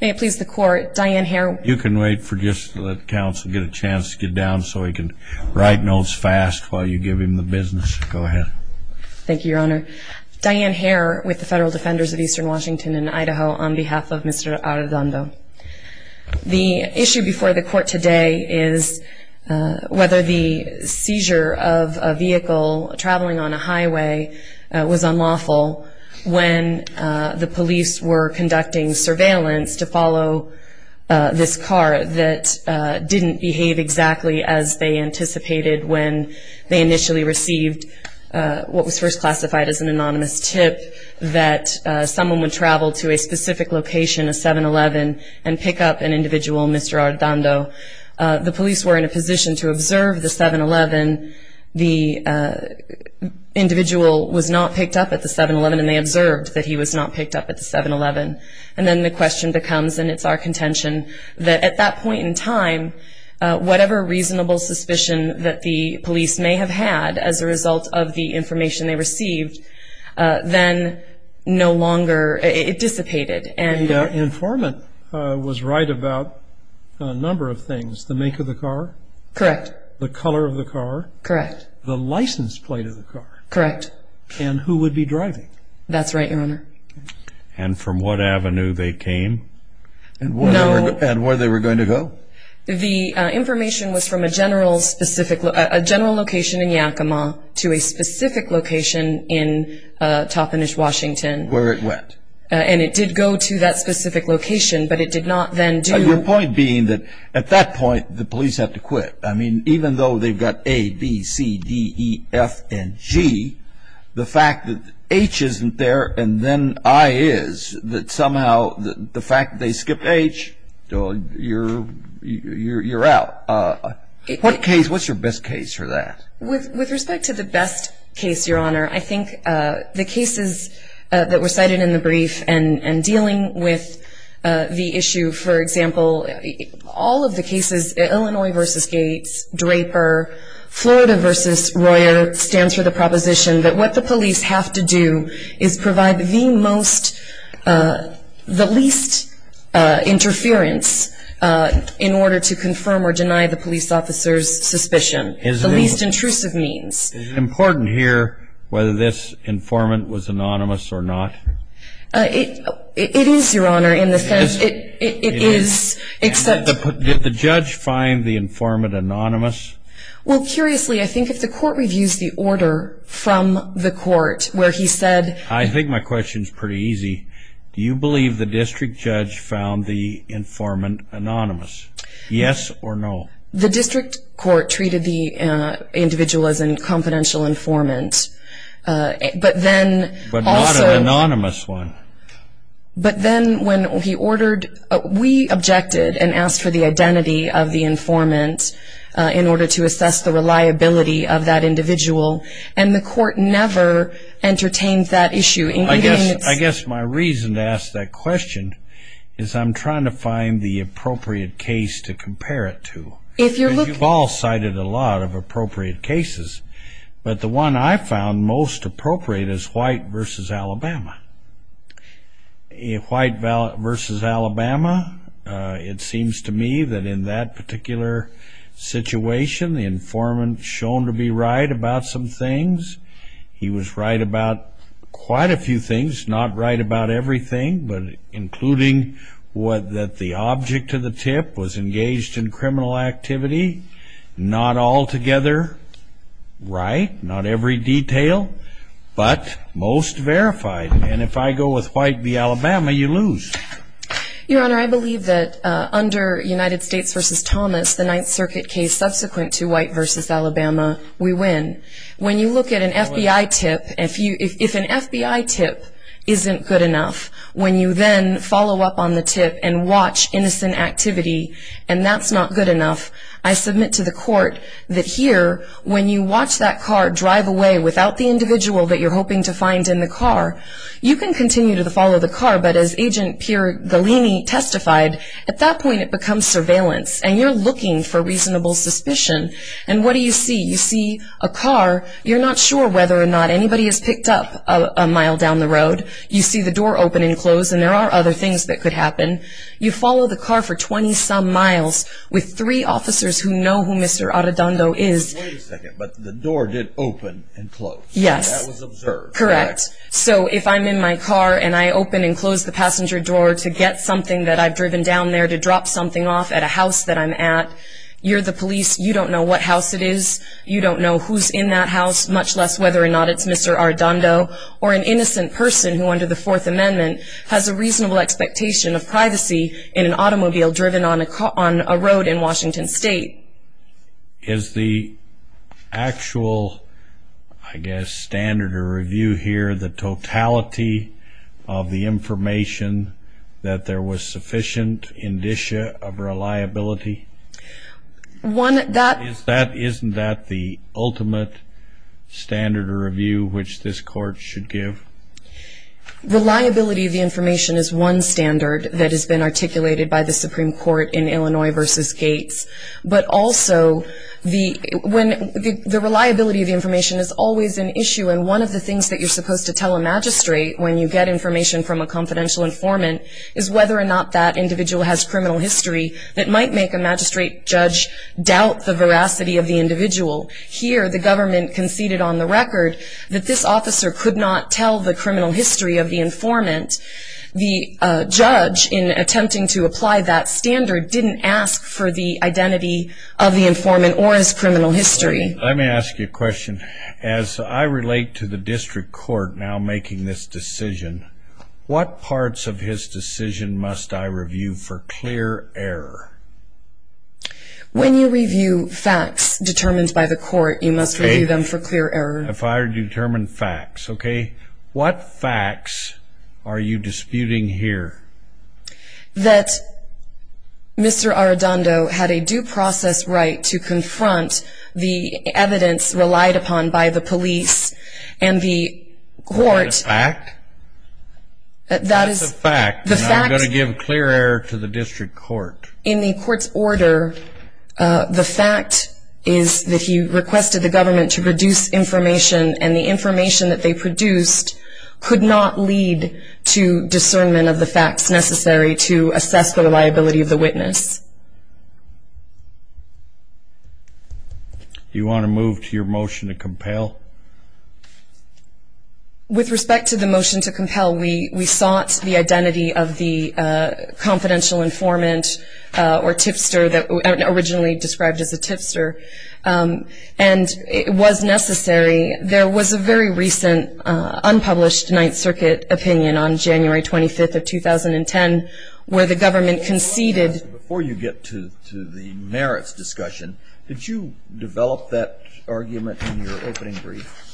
May it please the court, Diane Hare You can wait for just, let counsel get a chance to get down so he can write notes fast while you give him the business. Go ahead. Thank you your honor. Diane Hare with the Federal Defenders of Eastern Washington and Idaho on behalf of Mr. Arredondo. The issue before the court today is whether the seizure of a vehicle traveling on a highway was unlawful when the police were conducting surveillance to follow this car that didn't behave exactly as they anticipated when they initially received what was first classified as an anonymous tip, that someone would travel to a specific location, a 7-11, and pick up an individual, Mr. Arredondo. The police were in a position to observe the 7-11, the individual was not picked up at the 7-11 and they observed that he was not picked up at the 7-11. And then the question becomes, and it's our contention, that at that point in time, whatever reasonable suspicion that the police may have had as a result of the information they received, then no longer, it dissipated. The informant was right about a number of things. The make of the car? Correct. The color of the car? Correct. The license plate of the car? Correct. And who would be driving? That's right your honor. And from what avenue they came? No. And where they were going to go? The information was from a general location in Yakima to a specific location in Toppenish, Washington. Where it went? And it did go to that specific location, but it did not then do Your point being that at that point, the police have to quit. I mean, even though they've got A, B, C, D, E, F, and G, the fact that H isn't there and then I is, that somehow the fact that they skipped H, you're out. What's your best case for that? With respect to the best case, your honor, I think the cases that were cited in the brief and dealing with the issue, for example, all of the cases, Illinois v. Gates, Draper, Florida v. Royer, stands for the proposition that what the police have to do is provide the most, the least interference in order to confirm or deny the police officer's suspicion. The least intrusive means. Is it important here whether this informant was anonymous or not? It is, your honor, in the sense it is, except Did the judge find the informant anonymous? Well, curiously, I think if the court reviews the order from the court where he said I think my question's pretty easy. Do you believe the district judge found the informant anonymous? Yes or no? The district court treated the individual as a confidential informant, but then also But not an anonymous one? But then when he ordered, we objected and asked for the identity of the informant in order to assess the reliability of that individual, and the court never entertained that issue, including I guess my reason to ask that question is I'm trying to find the appropriate case to compare it to. If you're looking You've all cited a lot of appropriate cases, but the one I found most appropriate is White v. Alabama. White v. Alabama, it seems to me that in that particular situation, the informant shown to be right about some things. He was right about quite a few things, not right about everything, but including that the object of the tip was engaged in criminal activity. Not altogether right, not every detail, but most verified. And if I go with White v. Alabama, you lose. Your Honor, I believe that under United States v. Thomas, the Ninth Circuit case subsequent to White v. Alabama, we win. When you look at an FBI tip, if an FBI tip isn't good enough, when you then follow up on the tip and watch innocent activity, and that's not good enough, I submit to the court that here, when you watch that car drive away without the individual that you're hoping to find in the car, you can continue to follow the car, but as Agent Pierre Galini testified, at that point it becomes surveillance, and you're looking for reasonable suspicion. And what do you see? You see a car. You're not sure whether or not anybody has picked up a mile down the road. You see the door open and close, and there are other things that could happen. You follow the car for 20-some miles with three officers who know who Mr. Arradondo is. Wait a second, but the door did open and close. Yes. That was observed. Correct. So if I'm in my car and I open and close the passenger door to get something that I've driven down there, at a house that I'm at, you're the police. You don't know what house it is. You don't know who's in that house, much less whether or not it's Mr. Arradondo or an innocent person who under the Fourth Amendment has a reasonable expectation of privacy in an automobile driven on a road in Washington State. Is the actual, I guess, standard of review here the totality of the information that there was sufficient indicia of reliability? Isn't that the ultimate standard of review which this court should give? Reliability of the information is one standard that has been articulated by the Supreme Court in Illinois v. Gates. But also the reliability of the information is always an issue, and one of the things that you're supposed to tell a magistrate when you get information from a confidential informant is whether or not that individual has criminal history that might make a magistrate judge doubt the veracity of the individual. Here the government conceded on the record that this officer could not tell the criminal history of the informant. The judge, in attempting to apply that standard, didn't ask for the identity of the informant or his criminal history. Let me ask you a question. As I relate to the district court now making this decision, what parts of his decision must I review for clear error? When you review facts determined by the court, you must review them for clear error. If I determine facts, okay, what facts are you disputing here? That Mr. Arradondo had a due process right to confront the evidence relied upon by the police and the court. Is that a fact? That is a fact, and I'm going to give clear error to the district court. In the court's order, the fact is that he requested the government to produce information, and the information that they produced could not lead to discernment of the facts necessary to assess for the liability of the witness. Do you want to move to your motion to compel? With respect to the motion to compel, we sought the identity of the confidential informant or tipster originally described as a tipster, and it was necessary. There was a very recent unpublished Ninth Circuit opinion on January 25th of 2010 where the government conceded. Before you get to the merits discussion, did you develop that argument in your opening brief?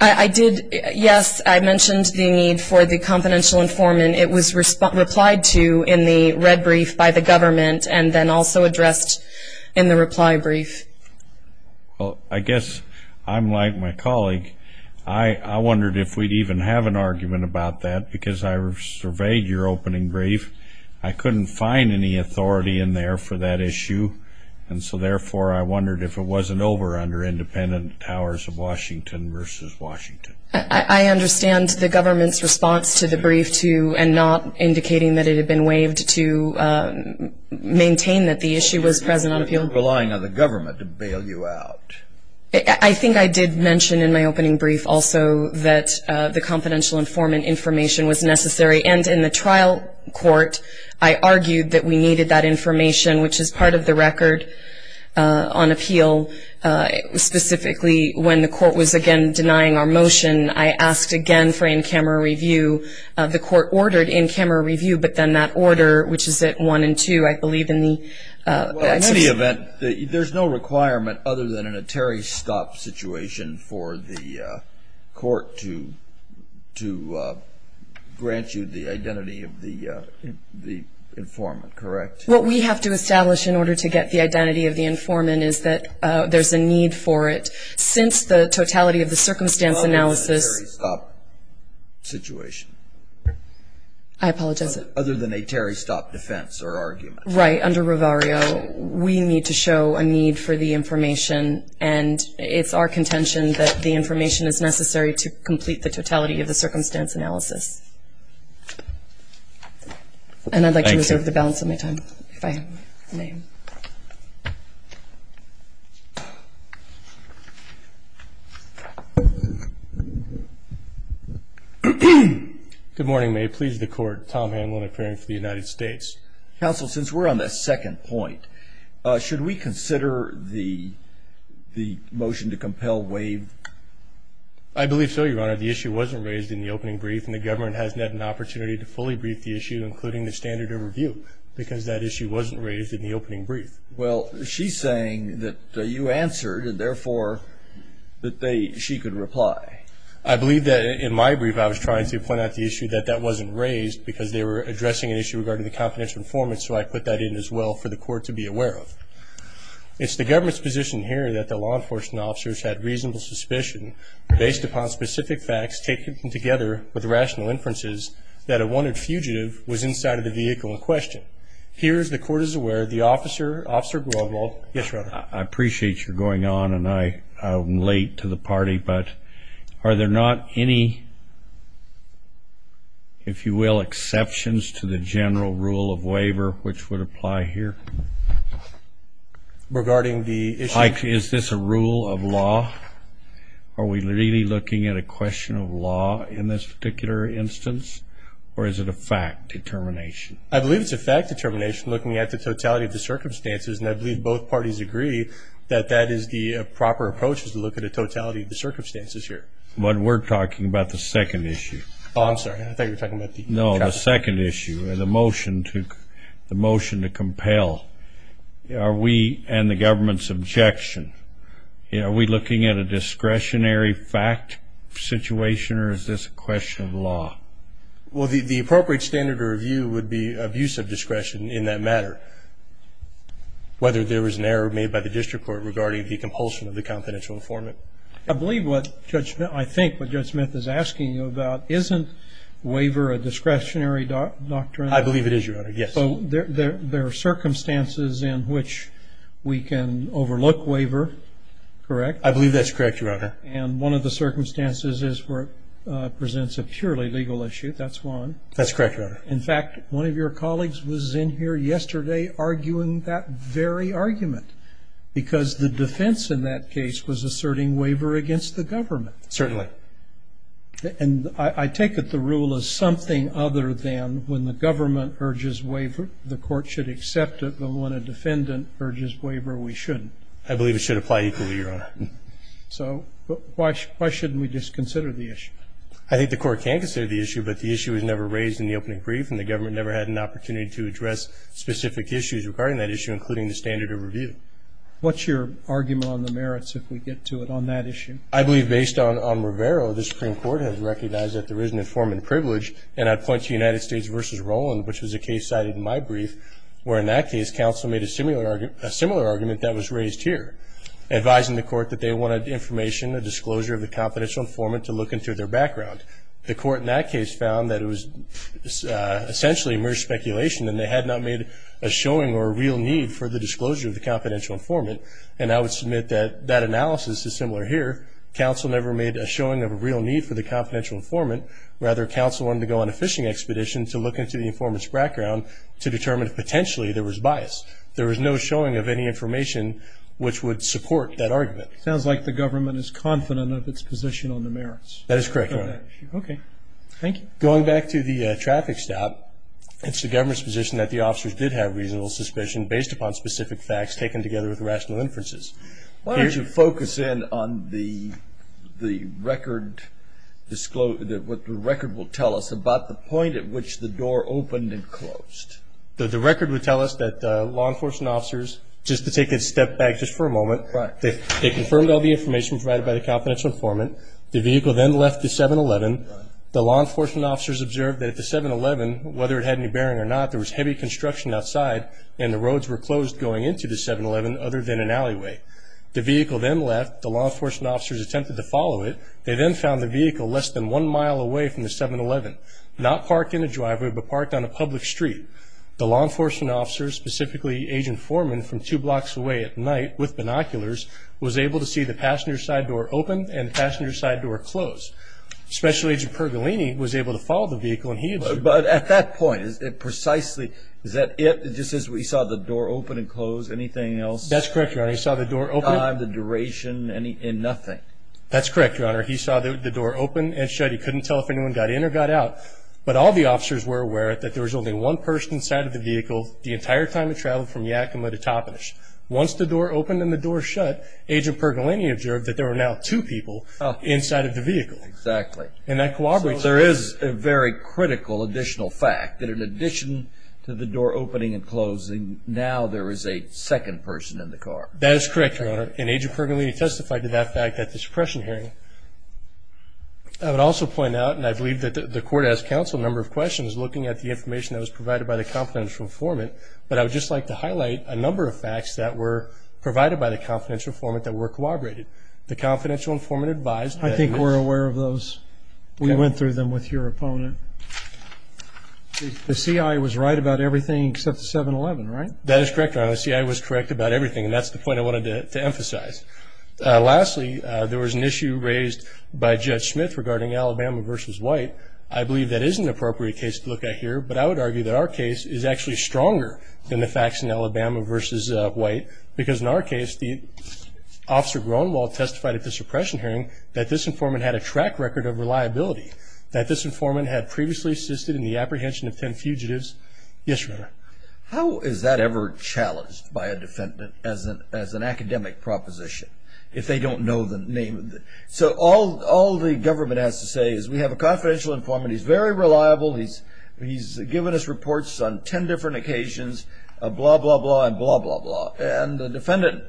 I did, yes. I mentioned the need for the confidential informant. It was replied to in the red brief by the government and then also addressed in the reply brief. Well, I guess I'm like my colleague. I wondered if we'd even have an argument about that because I surveyed your opening brief. I couldn't find any authority in there for that issue, and so therefore I wondered if it wasn't over under independent Towers of Washington versus Washington. I understand the government's response to the brief to and not indicating that it had been waived to maintain that the issue was present on appeal. You weren't relying on the government to bail you out. I think I did mention in my opening brief also that the confidential informant information was necessary, and in the trial court I argued that we needed that information, which is part of the record on appeal. Specifically, when the court was again denying our motion, I asked again for in-camera review. The court ordered in-camera review, but then that order, which is at 1 and 2, I believe in the motion. Well, in any event, there's no requirement other than in a Terry Stop situation for the court to grant you the identity of the informant, correct? What we have to establish in order to get the identity of the informant is that there's a need for it. Since the totality of the circumstance analysis- Other than a Terry Stop situation. I apologize. Other than a Terry Stop defense or argument. Right. Under Ravario, we need to show a need for the information, and it's our contention that the information is necessary to complete the totality of the circumstance analysis. Thank you. And I'd like to reserve the balance of my time if I may. Good morning. May it please the Court. Tom Hamlin, appearing for the United States. Counsel, since we're on the second point, should we consider the motion to compel Waive? I believe so, Your Honor. The issue wasn't raised in the opening brief, and the government hasn't had an opportunity to fully brief the issue, including the standard of review, because that issue wasn't raised in the opening brief. Well, she's saying that you answered and, therefore, that she could reply. I believe that in my brief I was trying to point out the issue that that wasn't raised because they were addressing an issue regarding the confidential informants, so I put that in as well for the Court to be aware of. It's the government's position here that the law enforcement officers had reasonable suspicion, based upon specific facts taken together with rational inferences, that a wanted fugitive was inside of the vehicle in question. Here, as the Court is aware, the officer, Officer Broadwald. Yes, Your Honor. I appreciate your going on, and I'm late to the party, but are there not any, if you will, exceptions to the general rule of waiver, which would apply here? Regarding the issue? Is this a rule of law? Are we really looking at a question of law in this particular instance, or is it a fact determination? I believe it's a fact determination, looking at the totality of the circumstances, and I believe both parties agree that that is the proper approach, is to look at the totality of the circumstances here. But we're talking about the second issue. Oh, I'm sorry. I thought you were talking about the traffic. No, the second issue, the motion to compel. Are we, and the government's objection, are we looking at a discretionary fact situation, or is this a question of law? Well, the appropriate standard of review would be abuse of discretion in that matter, whether there was an error made by the district court regarding the compulsion of the confidential informant. I believe what Judge Smith, I think what Judge Smith is asking you about, isn't waiver a discretionary doctrine? I believe it is, Your Honor, yes. So there are circumstances in which we can overlook waiver, correct? I believe that's correct, Your Honor. And one of the circumstances is where it presents a purely legal issue. That's one. That's correct, Your Honor. In fact, one of your colleagues was in here yesterday arguing that very argument, because the defense in that case was asserting waiver against the government. Certainly. And I take it the rule is something other than when the government urges waiver, the court should accept it, but when a defendant urges waiver, we shouldn't. I believe it should apply equally, Your Honor. So why shouldn't we just consider the issue? I think the court can consider the issue, but the issue was never raised in the opening brief, and the government never had an opportunity to address specific issues regarding that issue, including the standard of review. What's your argument on the merits if we get to it on that issue? I believe based on Rivero, the Supreme Court has recognized that there is an informant privilege, and I'd point to United States v. Roland, which was a case cited in my brief, where in that case counsel made a similar argument that was raised here, advising the court that they wanted information, a disclosure of the confidential informant to look into their background. The court in that case found that it was essentially mere speculation, and they had not made a showing or a real need for the disclosure of the confidential informant, and I would submit that that analysis is similar here. Counsel never made a showing of a real need for the confidential informant. Rather, counsel wanted to go on a fishing expedition to look into the informant's background to determine if potentially there was bias. There was no showing of any information which would support that argument. It sounds like the government is confident of its position on the merits. That is correct, Your Honor. Okay. Thank you. Going back to the traffic stop, it's the government's position that the officers did have reasonable suspicion based upon specific facts taken together with rational inferences. Why don't you focus in on the record, what the record will tell us about the point at which the door opened and closed. The record would tell us that law enforcement officers, just to take a step back just for a moment, they confirmed all the information provided by the confidential informant. The vehicle then left the 7-Eleven. The law enforcement officers observed that at the 7-Eleven, whether it had any bearing or not, there was heavy construction outside and the roads were closed going into the 7-Eleven other than an alleyway. The vehicle then left. The law enforcement officers attempted to follow it. They then found the vehicle less than one mile away from the 7-Eleven, not parked in a driveway but parked on a public street. The law enforcement officers, specifically Agent Foreman from two blocks away at night with binoculars, was able to see the passenger side door open and the passenger side door close. Special Agent Pergolini was able to follow the vehicle and he observed. But at that point, precisely, is that it? Just as we saw the door open and close, anything else? That's correct, Your Honor. He saw the door open. Time, the duration, and nothing? That's correct, Your Honor. He saw the door open and shut. He couldn't tell if anyone got in or got out. But all the officers were aware that there was only one person inside of the vehicle the entire time it traveled from Yakima to Toppenish. Once the door opened and the door shut, Agent Pergolini observed that there were now two people inside of the vehicle. Exactly. And that corroborates. There is a very critical additional fact that in addition to the door opening and closing, now there is a second person in the car. That is correct, Your Honor. And Agent Pergolini testified to that fact at the suppression hearing. I would also point out, and I believe that the court has counseled a number of questions looking at the information that was provided by the confidential informant, but I would just like to highlight a number of facts that were provided by the confidential informant that were corroborated. The confidential informant advised that he was. I think we're aware of those. We went through them with your opponent. The CI was right about everything except the 7-11, right? That is correct, Your Honor. The CI was correct about everything, and that's the point I wanted to emphasize. Lastly, there was an issue raised by Judge Smith regarding Alabama v. White. I believe that is an appropriate case to look at here, but I would argue that our case is actually stronger than the facts in Alabama v. White because in our case the officer Gronewald testified at the suppression hearing that this informant had a track record of reliability, that this informant had previously assisted in the apprehension of 10 fugitives. Yes, Your Honor. How is that ever challenged by a defendant as an academic proposition if they don't know the name? So all the government has to say is we have a confidential informant. He's very reliable. He's given us reports on 10 different occasions, blah, blah, blah, and blah, blah, blah, and the defendant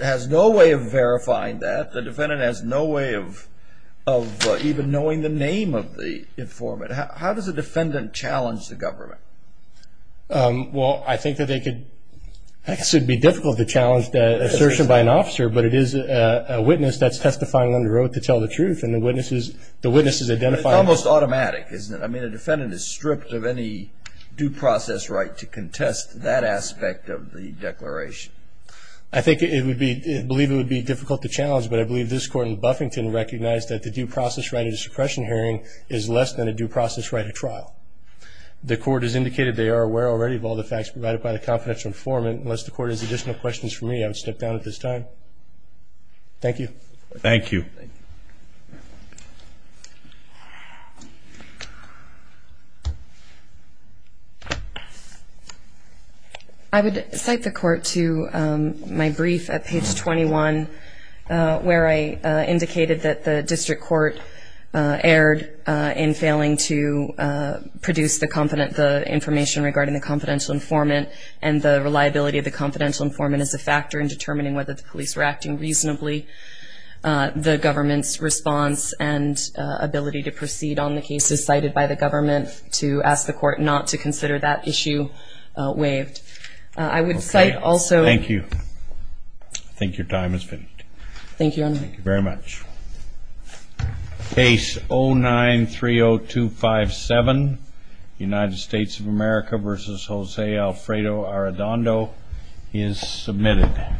has no way of verifying that. The defendant has no way of even knowing the name of the informant. How does a defendant challenge the government? Well, I think that they could be difficult to challenge that assertion by an officer, but it is a witness that's testifying under oath to tell the truth, and the witness is identifying. It's almost automatic, isn't it? I mean, a defendant is stripped of any due process right to contest that aspect of the declaration. I think it would be, I believe it would be difficult to challenge, but I believe this Court in Buffington recognized that the due process right at a suppression hearing is less than a due process right at trial. The Court has indicated they are aware already of all the facts provided by the confidential informant. Unless the Court has additional questions for me, I would step down at this time. Thank you. Thank you. Thank you. I would cite the Court to my brief at page 21, where I indicated that the district court erred in failing to produce the confident, the information regarding the confidential informant and the reliability of the confidential informant as a factor in determining whether the police were acting reasonably. The government's response and ability to proceed on the cases cited by the government to ask the Court not to consider that issue waived. I would cite also... Okay. Thank you. I think your time has finished. Thank you, Your Honor. Thank you very much. Case 09-30257, United States of America v. Jose Alfredo Arredondo is submitted.